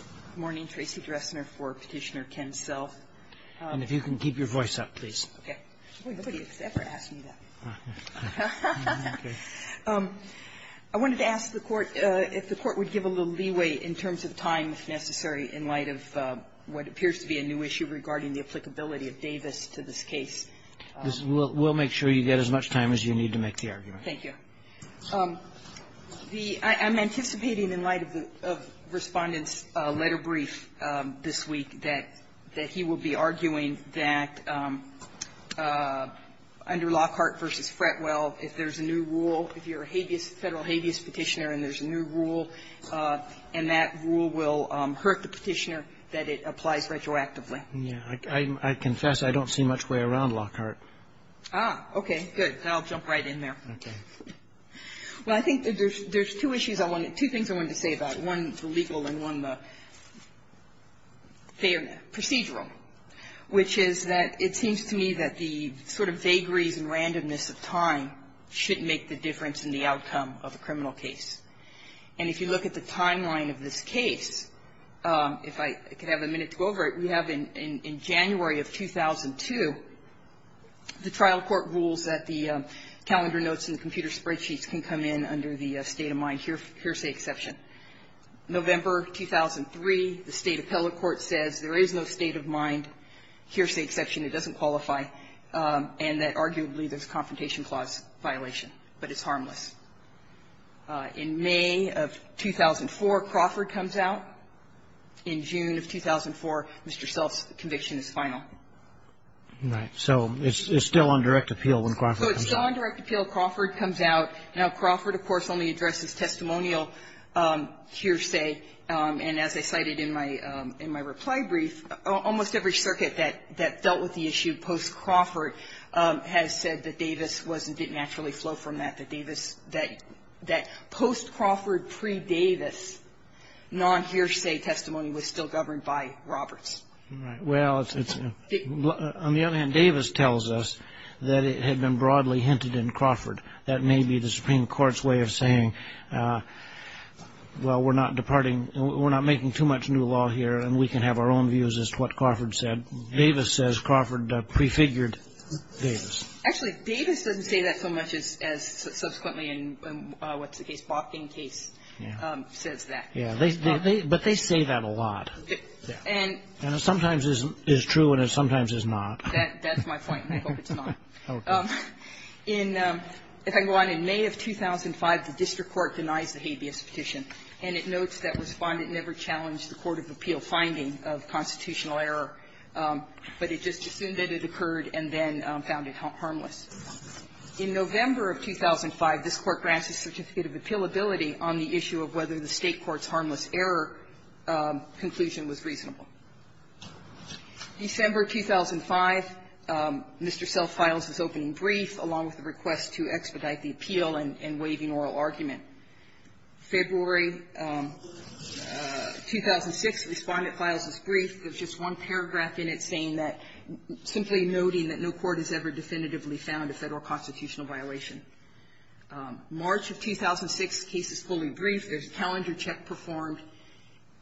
Good morning. Tracy Dressner for Petitioner Ken Self. And if you can keep your voice up, please. Nobody has ever asked me that. I wanted to ask the Court if the Court would give a little leeway in terms of time, if necessary, in light of what appears to be a new issue regarding the applicability of Davis to this case. We'll make sure you get as much time as you need to make the argument. Thank you. I'm anticipating, in light of Respondent's letter brief this week, that he will be arguing that under Lockhart v. Fretwell, if there's a new rule, if you're a federal habeas Petitioner and there's a new rule, and that rule will hurt the Petitioner, that it applies retroactively. I confess I don't see much way around Lockhart. Ah, okay, good. I'll jump right in there. Okay. Well, I think that there's two issues I wanted to say about, one the legal and one the procedural, which is that it seems to me that the sort of vagaries and randomness of time should make the difference in the outcome of a criminal case. And if you look at the timeline of this case, if I could have a minute to go over it, we have in January of 2002, the trial court rules that the calendar notes and the computer spreadsheets can come in under the state-of-mind hearsay exception. November 2003, the State Appellate Court says there is no state-of-mind hearsay exception. It doesn't qualify, and that arguably there's a Confrontation Clause violation, but it's harmless. In May of 2004, Crawford comes out. In June of 2004, Mr. Self's conviction is final. Right. So it's still on direct appeal when Crawford comes out. So it's still on direct appeal when Crawford comes out. Now, Crawford, of course, only addresses testimonial hearsay. And as I cited in my reply brief, almost every circuit that dealt with the issue post-Crawford has said that Davis wasn't, didn't naturally flow from that, that post-Crawford, pre-Davis, non-hearsay testimony was still governed by Roberts. Right. Well, it's, on the other hand, Davis tells us that it had been broadly hinted in Crawford. That may be the Supreme Court's way of saying, well, we're not departing, we're not making too much new law here, and we can have our own views as to what Crawford said. Davis says Crawford prefigured Davis. Actually, Davis doesn't say that so much as subsequently in what's the case, Bokken case, says that. Yeah. But they say that a lot. And it sometimes is true and it sometimes is not. That's my point, and I hope it's not. Okay. In, if I can go on, in May of 2005, the district court denies the habeas petition. And it notes that Respondent never challenged the court of appeal finding of constitutional error. But it just assumed that it occurred and then found it harmless. In November of 2005, this Court grants a certificate of appealability on the issue of whether the State court's harmless error conclusion was reasonable. December 2005, Mr. Self-Files is opening brief, along with the request to expedite the appeal and waiving oral argument. February 2006, Respondent files this brief. There's just one paragraph in it saying that, simply noting that no court has ever definitively found a Federal constitutional violation. March of 2006, case is fully briefed. There's a calendar check performed.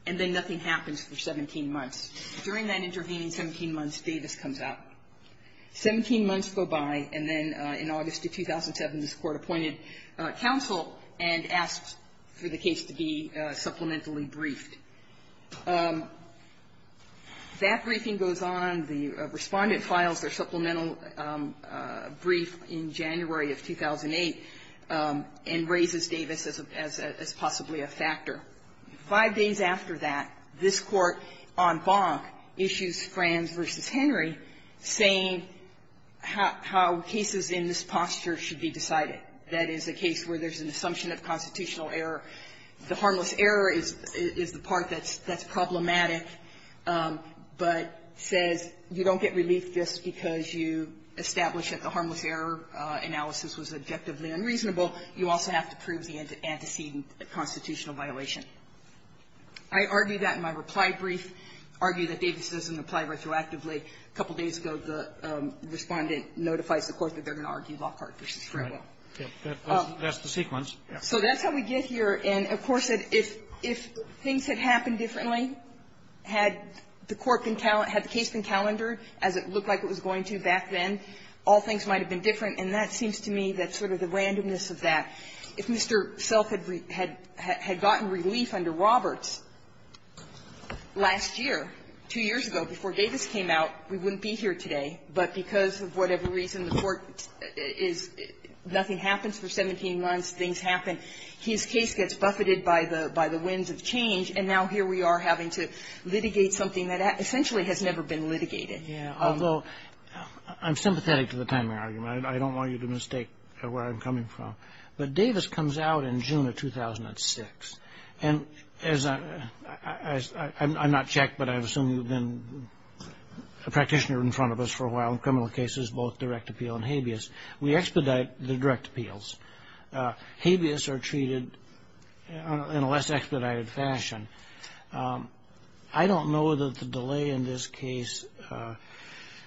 And then nothing happens for 17 months. During that intervening 17 months, Davis comes out. 17 months go by, and then in August of 2007, this Court appointed counsel and asked for the case to be supplementally briefed. That briefing goes on. The Respondent files their supplemental brief in January of 2008 and raises Davis as a, as possibly a factor. Five days after that, this Court, on Bonk, issues Frans v. Henry, saying how cases in this posture should be decided. That is a case where there's an assumption of constitutional error. The harmless error is the part that's problematic, but says you don't get relief just because you established that the harmless error analysis was objectively unreasonable. You also have to prove the antecedent constitutional violation. I argue that in my reply brief, argue that Davis doesn't apply retroactively. A couple days ago, the Respondent notifies the Court that they're going to argue Lockhart v. Franco. Roberts. Kennedy. That's the sequence. So that's how we get here. And, of course, if things had happened differently, had the Court been, had the case been calendared as it looked like it was going to back then, all things might have been different, and that seems to me that's sort of the randomness of that. If Mr. Self had gotten relief under Roberts last year, two years ago, before Davis came out, we wouldn't be here today. But because of whatever reason, the Court is, nothing happens for 17 months, things happen. His case gets buffeted by the winds of change, and now here we are having to litigate something that essentially has never been litigated. Although, I'm sympathetic to the timing argument. I don't want you to mistake where I'm coming from. But Davis comes out in June of 2006, and as I'm not checked, but I assume you've been a practitioner in front of us for a while in criminal cases, both direct appeal and habeas, we expedite the direct appeals. Habeas are treated in a less expedited fashion. I don't know that the delay in this case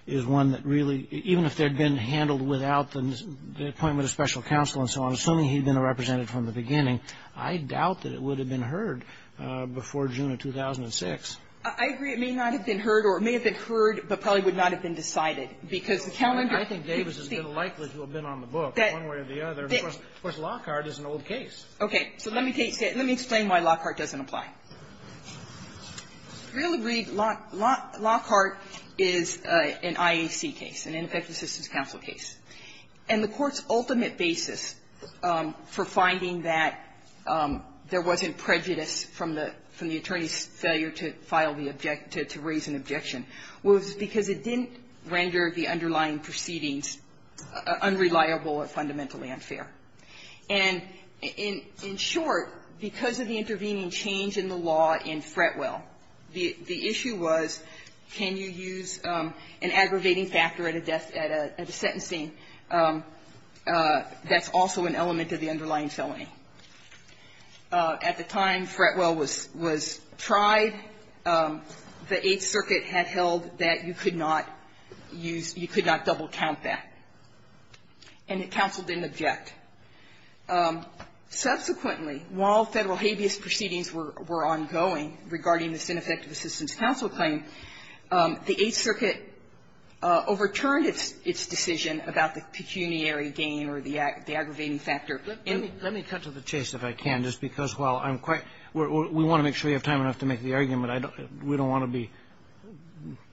is one that really, even if they'd been handled without the appointment of special counsel and so on, assuming he'd been a representative from the beginning, I doubt that it would have been heard before June of 2006. I agree. It may not have been heard, or it may have been heard, but probably would not have been decided, because the calendar. I think Davis is more likely to have been on the book, one way or the other. Of course, Lockhart is an old case. Okay. So let me explain why Lockhart doesn't apply. I really read Lockhart is an IAC case, an Infectious Systems Counsel case. And the Court's ultimate basis for finding that there wasn't prejudice from the attorney's failure to file the objection, to raise an objection, was because it didn't render the underlying proceedings unreliable or fundamentally unfair. And in short, because of the intervening change in the law in Fretwell, the issue was, can you use an aggravating factor at a death, at a sentencing that's also an element of the underlying felony. At the time Fretwell was tried, the Eighth Circuit had held that you could not use, you could not double-count that. And the counsel didn't object. Subsequently, while Federal habeas proceedings were ongoing regarding this Infectious Systems Counsel claim, the Eighth Circuit overturned its decision about the pecuniary gain or the aggravating factor. And the other thing is, and I'm going to cut to the chase, if I can, just because while I'm quite we want to make sure you have time enough to make the argument. We don't want to be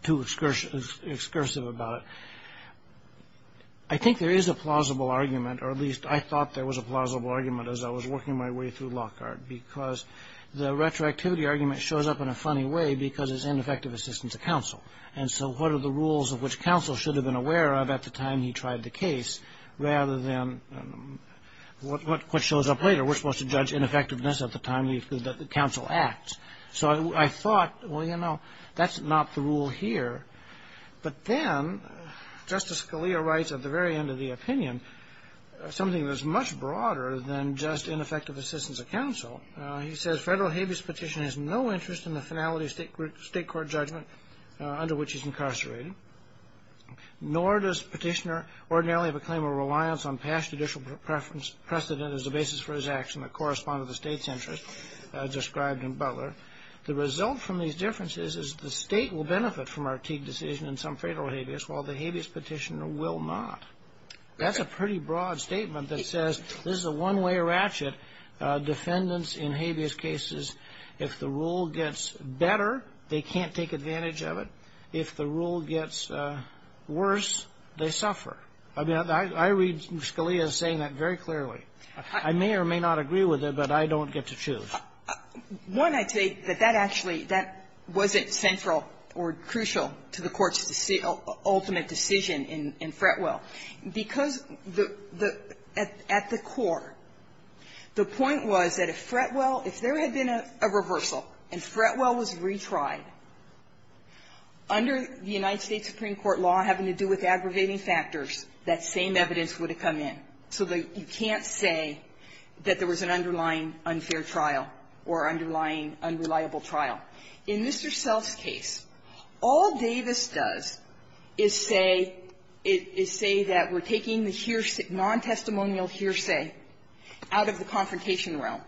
too excursive about it. I think there is a plausible argument, or at least I thought there was a plausible argument as I was working my way through Lockhart, because the retroactivity argument shows up in a funny way because it's ineffective assistance to counsel. And so what are the rules of which counsel should have been aware of at the time he tried the case, rather than what shows up later? We're supposed to judge ineffectiveness at the time that the counsel acts. So I thought, well, you know, that's not the rule here. But then Justice Scalia writes at the very end of the opinion something that's much broader than just ineffective assistance of counsel. He says, Federal habeas petition has no interest in the finality of state court judgment under which he's incarcerated, nor does petitioner ordinarily have a claim or reliance on past judicial precedent as the basis for his action that correspond to the state's interest described in Butler. The result from these differences is the state will benefit from our Teague decision in some federal habeas, while the habeas petitioner will not. That's a pretty broad statement that says this is a one-way ratchet. Defendants in habeas cases, if the rule gets better, they can't take advantage of it. If the rule gets worse, they suffer. I mean, I read Scalia saying that very clearly. I may or may not agree with it, but I don't get to choose. One, I take that that actually, that wasn't central or crucial to the Court's ultimate decision in Fretwell. Because the at the core, the point was that if Fretwell, if there had been a reversal and Fretwell was retried, under the United States Supreme Court law having to do with say that there was an underlying unfair trial or underlying unreliable trial. In Mr. Self's case, all Davis does is say, is say that we're taking the non-testimonial hearsay out of the confrontation realm.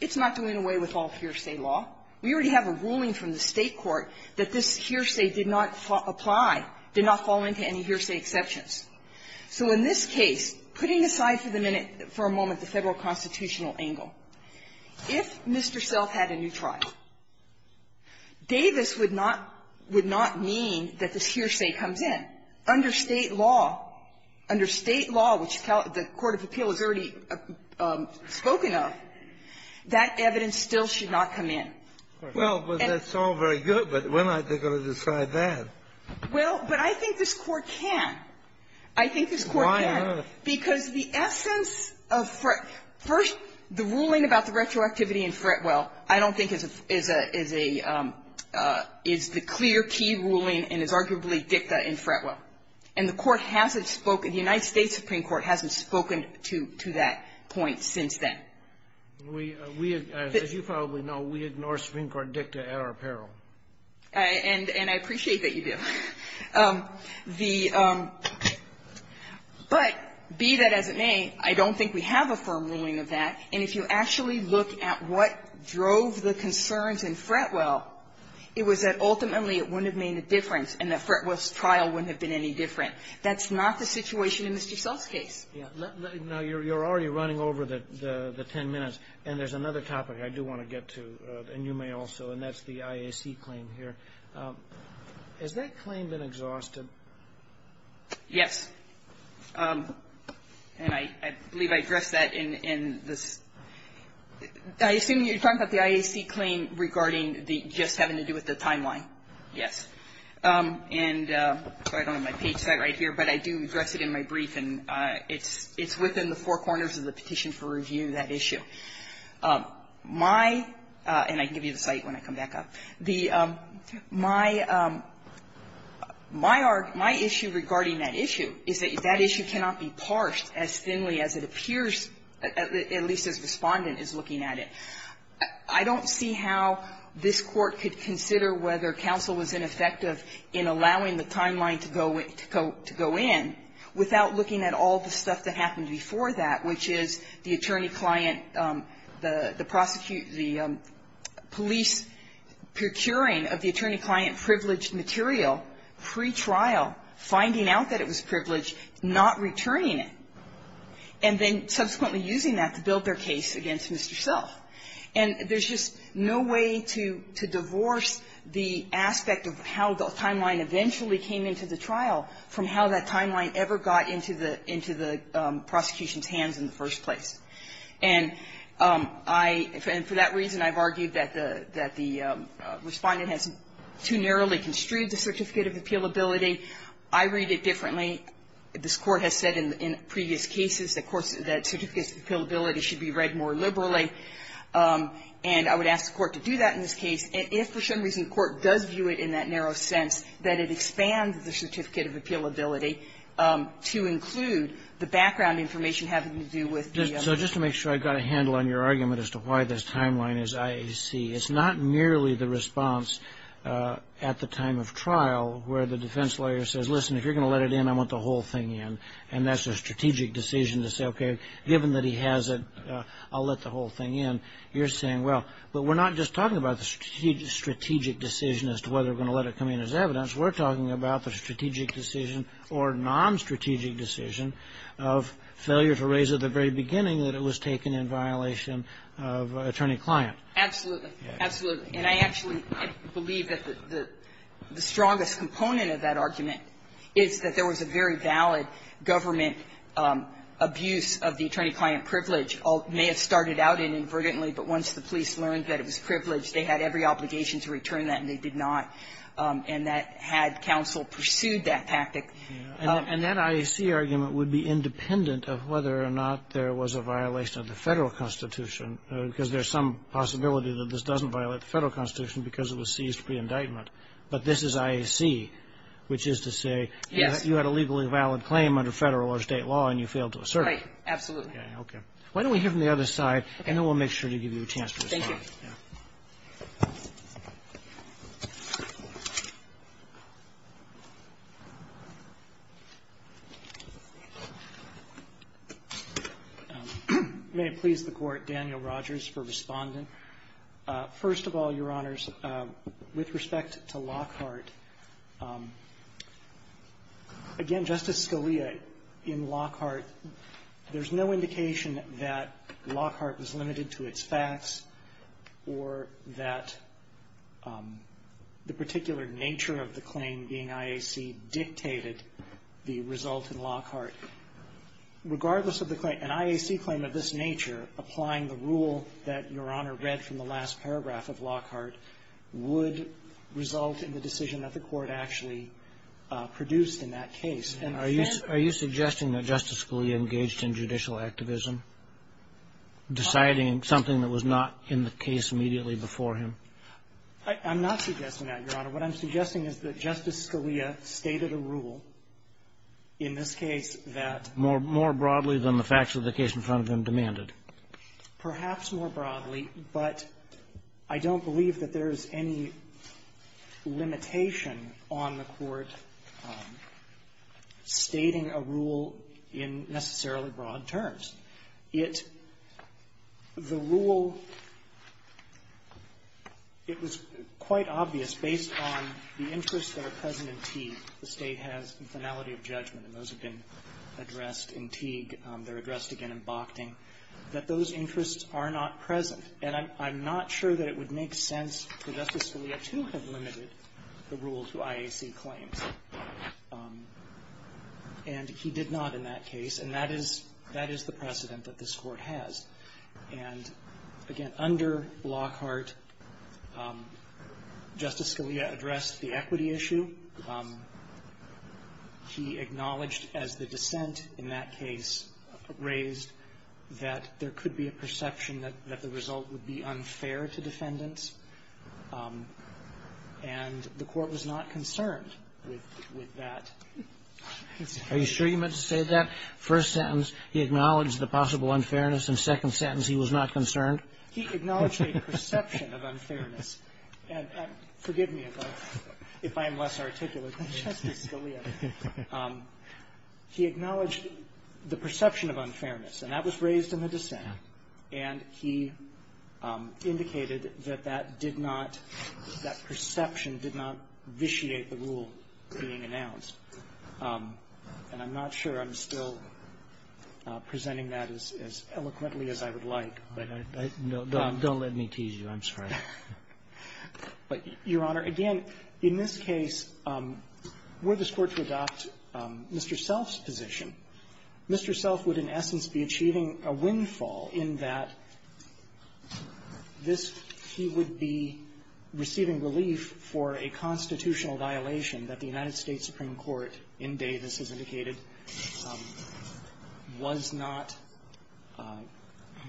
It's not doing away with all hearsay law. We already have a ruling from the State court that this hearsay did not apply, did not fall into any hearsay exceptions. So in this case, putting aside for the minute, for a moment, the Federal constitutional angle, if Mr. Self had a new trial, Davis would not, would not mean that this hearsay comes in. Under State law, under State law, which the court of appeal has already spoken of, that evidence still should not come in. Well, but that's all very good, but we're not going to decide that. Well, but I think this Court can. I think this Court can. Why not? Because the essence of Fretwell – first, the ruling about the retroactivity in Fretwell I don't think is a, is a, is the clear key ruling and is arguably dicta in Fretwell. And the Court hasn't spoken, the United States Supreme Court hasn't spoken to that point since then. We, we, as you probably know, we ignore Supreme Court dicta at our peril. And, and I appreciate that you do. The – but, be that as it may, I don't think we have a firm ruling of that. And if you actually look at what drove the concerns in Fretwell, it was that ultimately it wouldn't have made a difference and that Fretwell's trial wouldn't have been any different. That's not the situation in Mr. Self's case. Now, you're, you're already running over the, the ten minutes, and there's another topic I do want to get to, and you may also, and that's the IAC claim here. Has that claim been exhausted? Yes. And I, I believe I addressed that in, in this – I assume you're talking about the IAC claim regarding the, just having to do with the timeline. Yes. And I don't have my page set right here, but I do address it in my brief, and it's, it's within the four corners of the petition for review, that issue. My – and I can give you the site when I come back up. The – my, my issue regarding that issue is that that issue cannot be parsed as thinly as it appears, at least as Respondent is looking at it. I don't see how this Court could consider whether counsel was ineffective in allowing the timeline to go, to go in without looking at all the stuff that happened before that, which is the attorney-client, the, the prosecute, the police procuring of the attorney-client privileged material pre-trial, finding out that it was privileged, not returning it, and then subsequently using that to build their case against Mr. Self. And there's just no way to, to divorce the aspect of how the timeline eventually came into the trial from how that timeline ever got into the, into the prosecution's hands in the first place. And I, and for that reason, I've argued that the, that the Respondent has too narrowly construed the certificate of appealability. I read it differently. This Court has said in, in previous cases, of course, that certificates of appealability should be read more liberally. And I would ask the Court to do that in this case. And if, for some reason, the Court does view it in that narrow sense, that it expands the certificate of appealability to include the background information having to do with the other. Kagan. So just to make sure I got a handle on your argument as to why this timeline is IAC, it's not merely the response at the time of trial where the defense lawyer says, listen, if you're going to let it in, I want the whole thing in, and that's a strategic decision to say, okay, given that he has it, I'll let the whole thing in. You're saying, well, but we're not just talking about the strategic decision as to whether we're going to let it come in as evidence. We're talking about the strategic decision or nonstrategic decision of failure to raise at the very beginning that it was taken in violation of attorney-client. Absolutely. Absolutely. And I actually believe that the, the strongest component of that argument is that there was a very valid government abuse of the attorney-client privilege, which may have started out inadvertently, but once the police learned that it was privileged, they had every obligation to return that, and they did not. And that had counsel pursued that tactic. And that IAC argument would be independent of whether or not there was a violation of the Federal Constitution, because there's some possibility that this doesn't violate the Federal Constitution because it was seized pre-indictment. But this is IAC, which is to say you had a legally valid claim under Federal or State law, and you failed to assert it. Right. Absolutely. Okay. Why don't we hear from the other side, and then we'll make sure to give you a chance to respond. Thank you. Yeah. May it please the Court, Daniel Rogers for Respondent. First of all, Your Honors, with respect to Lockhart, again, Justice Scalia, in Lockhart, there's no indication that Lockhart was limited to its facts or that the particular nature of the claim being IAC dictated the result in Lockhart. Regardless of the claim, an IAC claim of this nature, applying the rule that Your Honor read from the last paragraph of Lockhart, would result in the decision that the Court actually produced in that case. And are you suggesting that Justice Scalia engaged in judicial activism, deciding something that was not in the case immediately before him? I'm not suggesting that, Your Honor. What I'm suggesting is that Justice Scalia stated a rule in this case that ---- More broadly than the facts of the case in front of him demanded. Perhaps more broadly. But I don't believe that there's any limitation on the Court stating a rule in necessarily broad terms. It ---- the rule, it was quite obvious based on the interests that are present in Teague. The State has the finality of judgment, and those have been addressed in Teague. They're addressed again in Bochting. That those interests are not present. And I'm not sure that it would make sense for Justice Scalia to have limited the rule to IAC claims. And he did not in that case, and that is the precedent that this Court has. And again, under Lockhart, Justice Scalia addressed the equity issue. He acknowledged as the dissent in that case raised that there could be a perception that the result would be unfair to defendants. And the Court was not concerned with that. Are you sure you meant to say that? First sentence, he acknowledged the possible unfairness. In the second sentence, he was not concerned. He acknowledged a perception of unfairness. And forgive me if I'm less articulate than Justice Scalia. He acknowledged the perception of unfairness, and that was raised in the dissent. And he indicated that that did not ---- that perception did not vitiate the rule being announced. And I'm not sure I'm still presenting that as eloquently as I would like. But I don't let me tease you. I'm sorry. But, Your Honor, again, in this case, were this Court to adopt Mr. Self's position, Mr. Self would in essence be achieving a windfall in that this he would be receiving relief for a constitutional violation that the United States Supreme Court, in Davis, as indicated, was not ----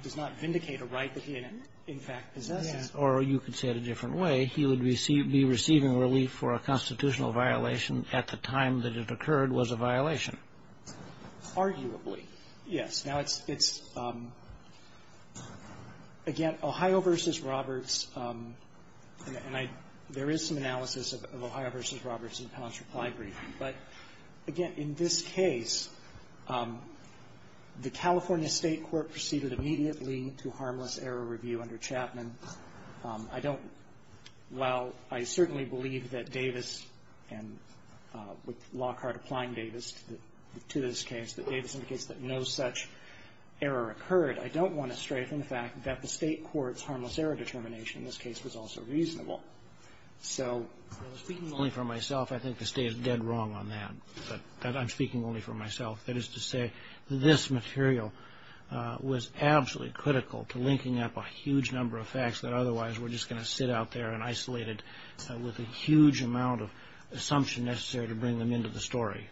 does not vindicate a right that he in fact possesses. Or you could say it a different way. He would be receiving relief for a constitutional violation at the time that it occurred was a violation. Arguably, yes. Now, it's ---- again, Ohio v. Roberts, and I ---- there is some analysis of Ohio v. Roberts, and in this case, the California State court proceeded immediately to harmless error review under Chapman. I don't ---- while I certainly believe that Davis and with Lockhart applying Davis to this case, that Davis indicates that no such error occurred, I don't want to straighten the fact that the State court's harmless error determination in this case was also reasonable. So speaking only for myself, I think the State is dead wrong on that, that I'm speaking only for myself. That is to say, this material was absolutely critical to linking up a huge number of facts that otherwise we're just going to sit out there and isolate it with a huge amount of assumption necessary to bring them into the story.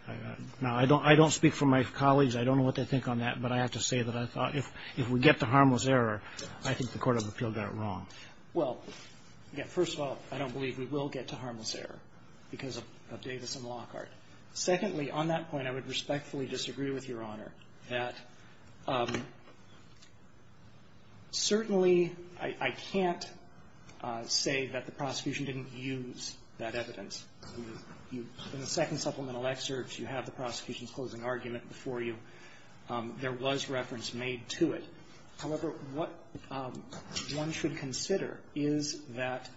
Now, I don't ---- I don't speak for my colleagues. I don't know what they think on that, but I have to say that I thought if we get to harmless error, I think the court of appeal got it wrong. Well, first of all, I don't believe we will get to harmless error because of Davis and Lockhart. Secondly, on that point, I would respectfully disagree with Your Honor that certainly I can't say that the prosecution didn't use that evidence. In the second supplemental excerpt, you have the prosecution's closing argument before you. There was reference made to it. However, what one should consider is that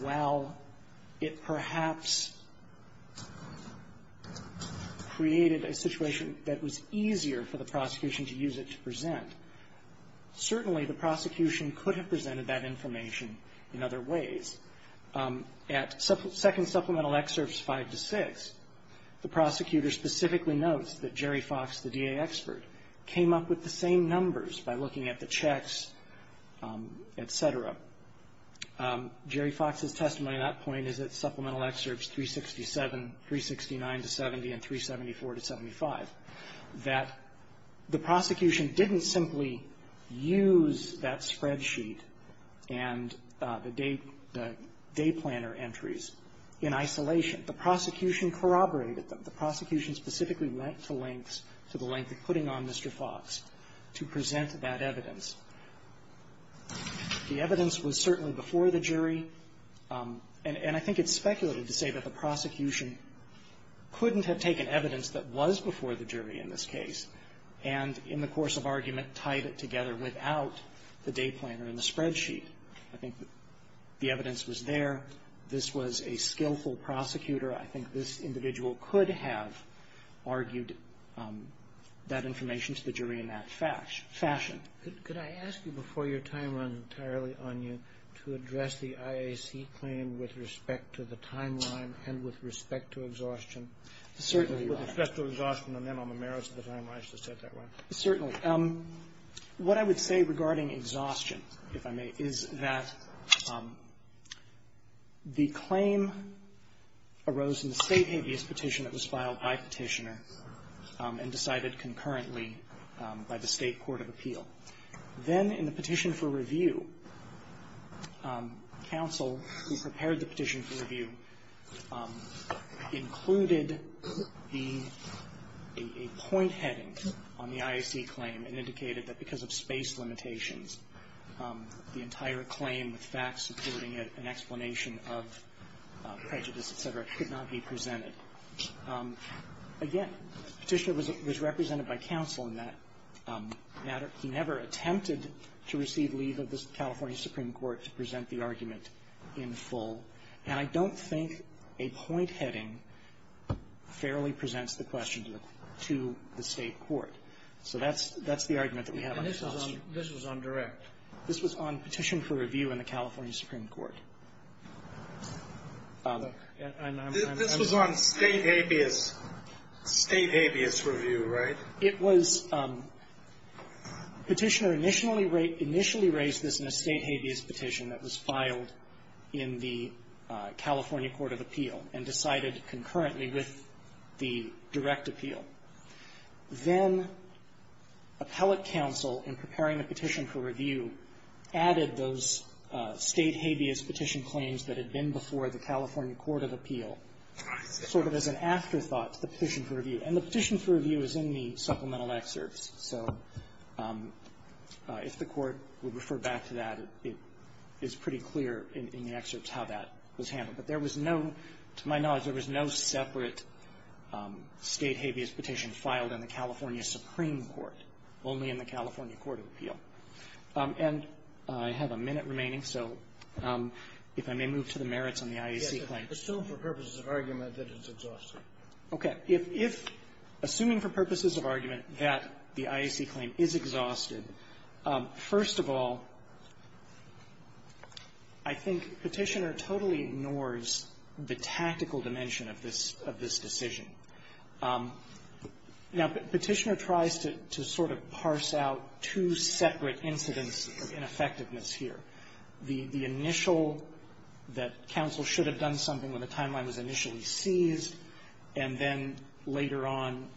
while it perhaps created a situation that was easier for the prosecution to use it to present, certainly the prosecution could have presented that information in other ways. At second supplemental excerpts 5 to 6, the prosecutor specifically notes that Jerry Fox's testimony at that point is at supplemental excerpts 367, 369 to 70, and 374 to 75, that the prosecution didn't simply use that spreadsheet and the day planner entries in isolation. The prosecution corroborated them. The prosecution specifically went to lengths, to the length of putting on Mr. Fox to present that evidence. The evidence was certainly before the jury. And I think it's speculative to say that the prosecution couldn't have taken evidence that was before the jury in this case and, in the course of argument, tied it together without the day planner and the spreadsheet. I think the evidence was there. This was a skillful prosecutor. I think this individual could have argued that information to the jury in that fashion. Could I ask you, before your time runs entirely on you, to address the IAC claim with respect to the timeline and with respect to exhaustion? Certainly. With respect to exhaustion and then on the merits of the timeline, I should have said that, right? Certainly. What I would say regarding exhaustion, if I may, is that the claim arose in the State habeas petition that was filed by Petitioner and decided concurrently by the State Court of Appeal. Then, in the petition for review, counsel, who prepared the petition for review, included a point heading on the IAC claim and indicated that because of space limitations, the entire claim, with facts supporting it, an explanation of prejudice, et cetera, could not be presented. Again, Petitioner was represented by counsel in that matter. He never attempted to receive leave of the California Supreme Court to present the argument in full, and I don't think a point heading fairly presents the question to the State Court. So that's the argument that we have on exhaustion. And this was on direct? This was on petition for review in the California Supreme Court. This was on State habeas review, right? It was. Petitioner initially raised this in a State habeas petition that was filed in the California Court of Appeal and decided concurrently with the direct appeal. Then, appellate counsel, in preparing the petition for review, added those State habeas petition claims that had been before the California Court of Appeal sort of as an afterthought to the petition for review. And the petition for review is in the supplemental excerpts. So if the Court would refer back to that, it's pretty clear in the excerpts how that was handled. But there was no, to my knowledge, there was no separate State habeas petition filed in the California Supreme Court, only in the California Court of Appeal. And I have a minute remaining, so if I may move to the merits on the IAC claim. Yes. Assume for purposes of argument that it's exhausted. Okay. If assuming for purposes of argument that the IAC claim is exhausted, first of all, I think Petitioner totally ignores the tactical dimension of this decision. Now, Petitioner tries to sort of parse out two separate incidents of ineffectiveness here. The initial, that counsel should have done something when the timeline was initially seized, and then later on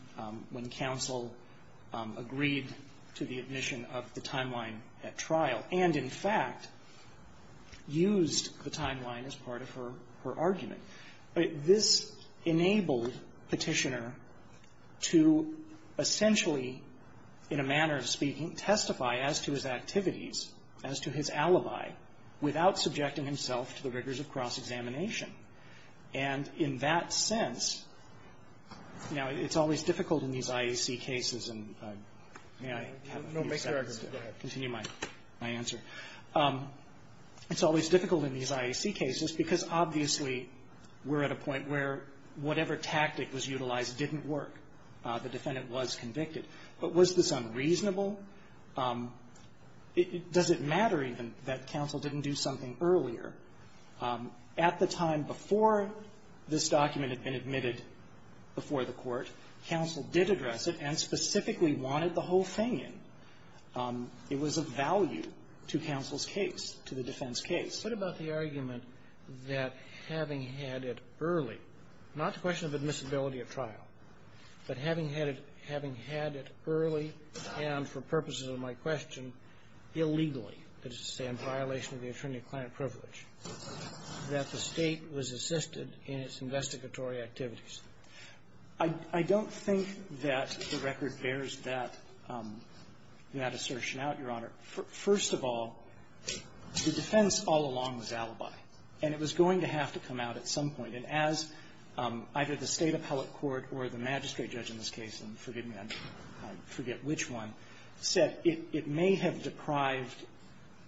when counsel agreed to the admission of the timeline at trial, and, in fact, used the timeline as part of her argument. This enabled Petitioner to essentially, in a manner of speaking, testify as to his activities, as to his alibi, without subjecting himself to the rigors of cross examination. And in that sense, now, it's always difficult in these IAC cases, and may I have a few seconds to continue my answer? No. Make your argument. Go ahead. It's always difficult in these IAC cases because obviously we're at a point where whatever tactic was utilized didn't work. The defendant was convicted. But was this unreasonable? Does it matter even that counsel didn't do something earlier? At the time before this document had been admitted before the court, counsel did address it and specifically wanted the whole thing in. It was of value to counsel's case, to the defense case. What about the argument that having had it early, not the question of admissibility at trial, but having had it early and, for purposes of my question, illegally, that is to say in violation of the attorney-client privilege, that the State was assisted in its investigatory activities? I don't think that the record bears that assertion out, Your Honor. First of all, the defense all along was alibi, and it was going to have to come out at some point. And as either the State appellate court or the magistrate judge in this case, and forgive me, I forget which one, said it may have deprived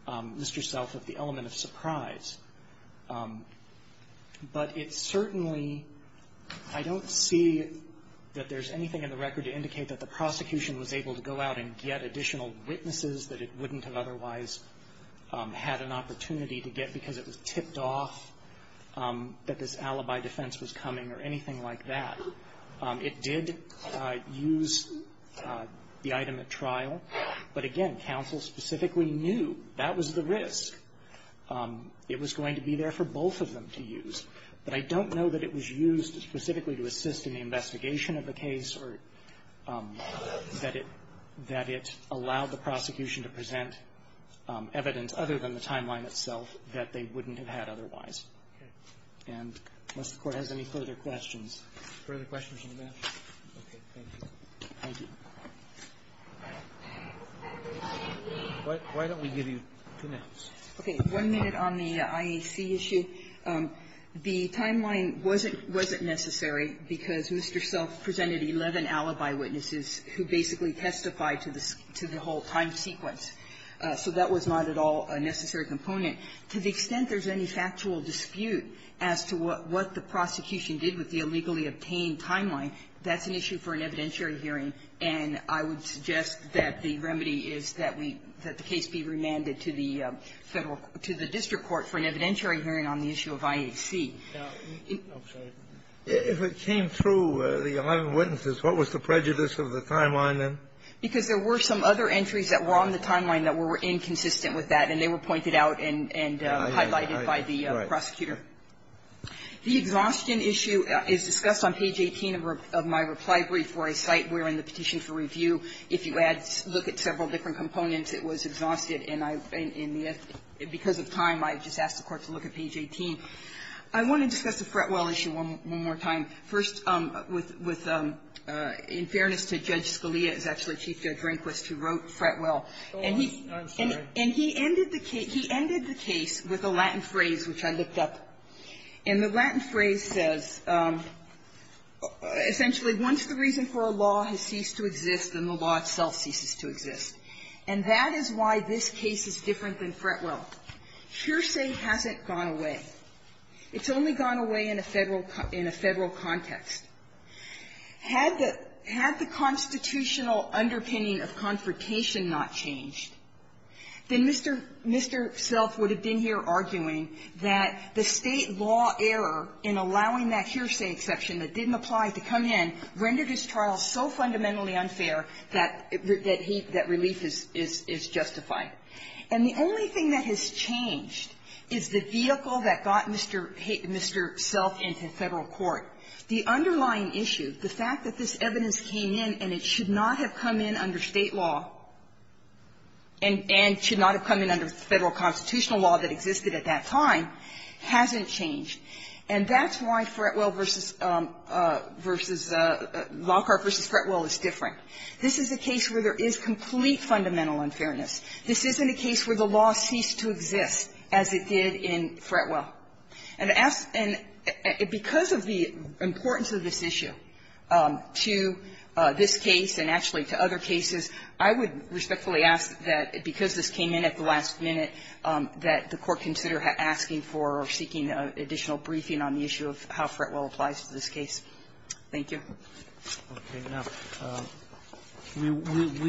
Mr. Self of the element of surprise. But it certainly, I don't see that there's anything in the record to indicate that the prosecution was able to go out and get additional witnesses that it wouldn't have otherwise had an opportunity to get because it was tipped off that this alibi defense was coming or anything like that. It did use the item at trial, but again, counsel specifically knew that was the risk. It was going to be there for both of them to use. But I don't know that it was used specifically to assist in the investigation of the case or that it allowed the prosecution to present evidence other than the timeline itself that they wouldn't have had otherwise. And unless the Court has any further questions. Roberts. Further questions on the matter? Okay. Thank you. Thank you. Why don't we give you two minutes? Okay. One minute on the IAC issue. The timeline wasn't necessary because Mr. Self presented 11 alibi witnesses who basically testified to the whole time sequence. So that was not at all a necessary component. To the extent there's any factual dispute as to what the prosecution did with the illegally obtained timeline, that's an issue for an evidentiary hearing, and I would suggest that the remedy is that we let the case be remanded to the Federal to the district court for an evidentiary hearing on the issue of IAC. I'm sorry. If it came through the 11 witnesses, what was the prejudice of the timeline then? Because there were some other entries that were on the timeline that were inconsistent with that, and they were pointed out and highlighted by the prosecutor. The exhaustion issue is discussed on page 18 of my reply brief for a site wherein the petition for review, if you look at several different components, it was exhausted and because of time, I just asked the Court to look at page 18. I want to discuss the Fretwell issue one more time. First, with, in fairness to Judge Scalia, who is actually Chief Judge Rehnquist, who wrote Fretwell, and he ended the case with a Latin phrase, which I looked up, and the Latin phrase says, essentially, once the reason for a law has ceased to exist, then the law itself ceases to exist. And that is why this case is different than Fretwell. Hearsay hasn't gone away. It's only gone away in a Federal context. Had the constitutional underpinning of confrontation not changed, then Mr. Self would have been here arguing that the State law error in allowing that hearsay exception that didn't apply to come in rendered his trial so fundamentally unfair that relief is justified. And the only thing that has changed is the vehicle that got Mr. Self into Federal court. The underlying issue, the fact that this evidence came in and it should not have come in under State law and should not have come in under Federal constitutional law that existed at that time, hasn't changed. And that's why Fretwell v. Lockhart v. Fretwell is different. This is a case where there is complete fundamental unfairness. This isn't a case where the law ceased to exist as it did in Fretwell. And to ask and because of the importance of this issue to this case and actually to other cases, I would respectfully ask that because this came in at the last minute that the Court consider asking for or seeking additional briefing on the issue of how Fretwell applies to this case. Thank you. Roberts. We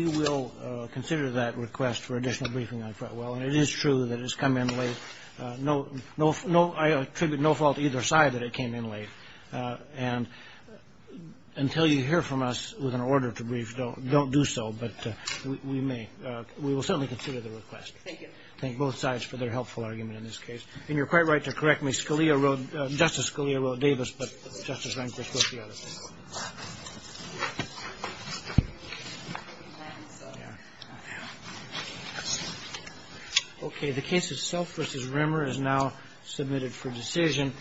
will consider that request for additional briefing on Fretwell. And it is true that it's come in late. I attribute no fault to either side that it came in late. And until you hear from us with an order to brief, don't do so. But we may. We will certainly consider the request. Thank you. Thank both sides for their helpful argument in this case. And you're quite right to correct me. Justice Scalia wrote Davis, but Justice Rehnquist wrote the other thing. Okay. The case of Self v. Rimmer is now submitted for decision.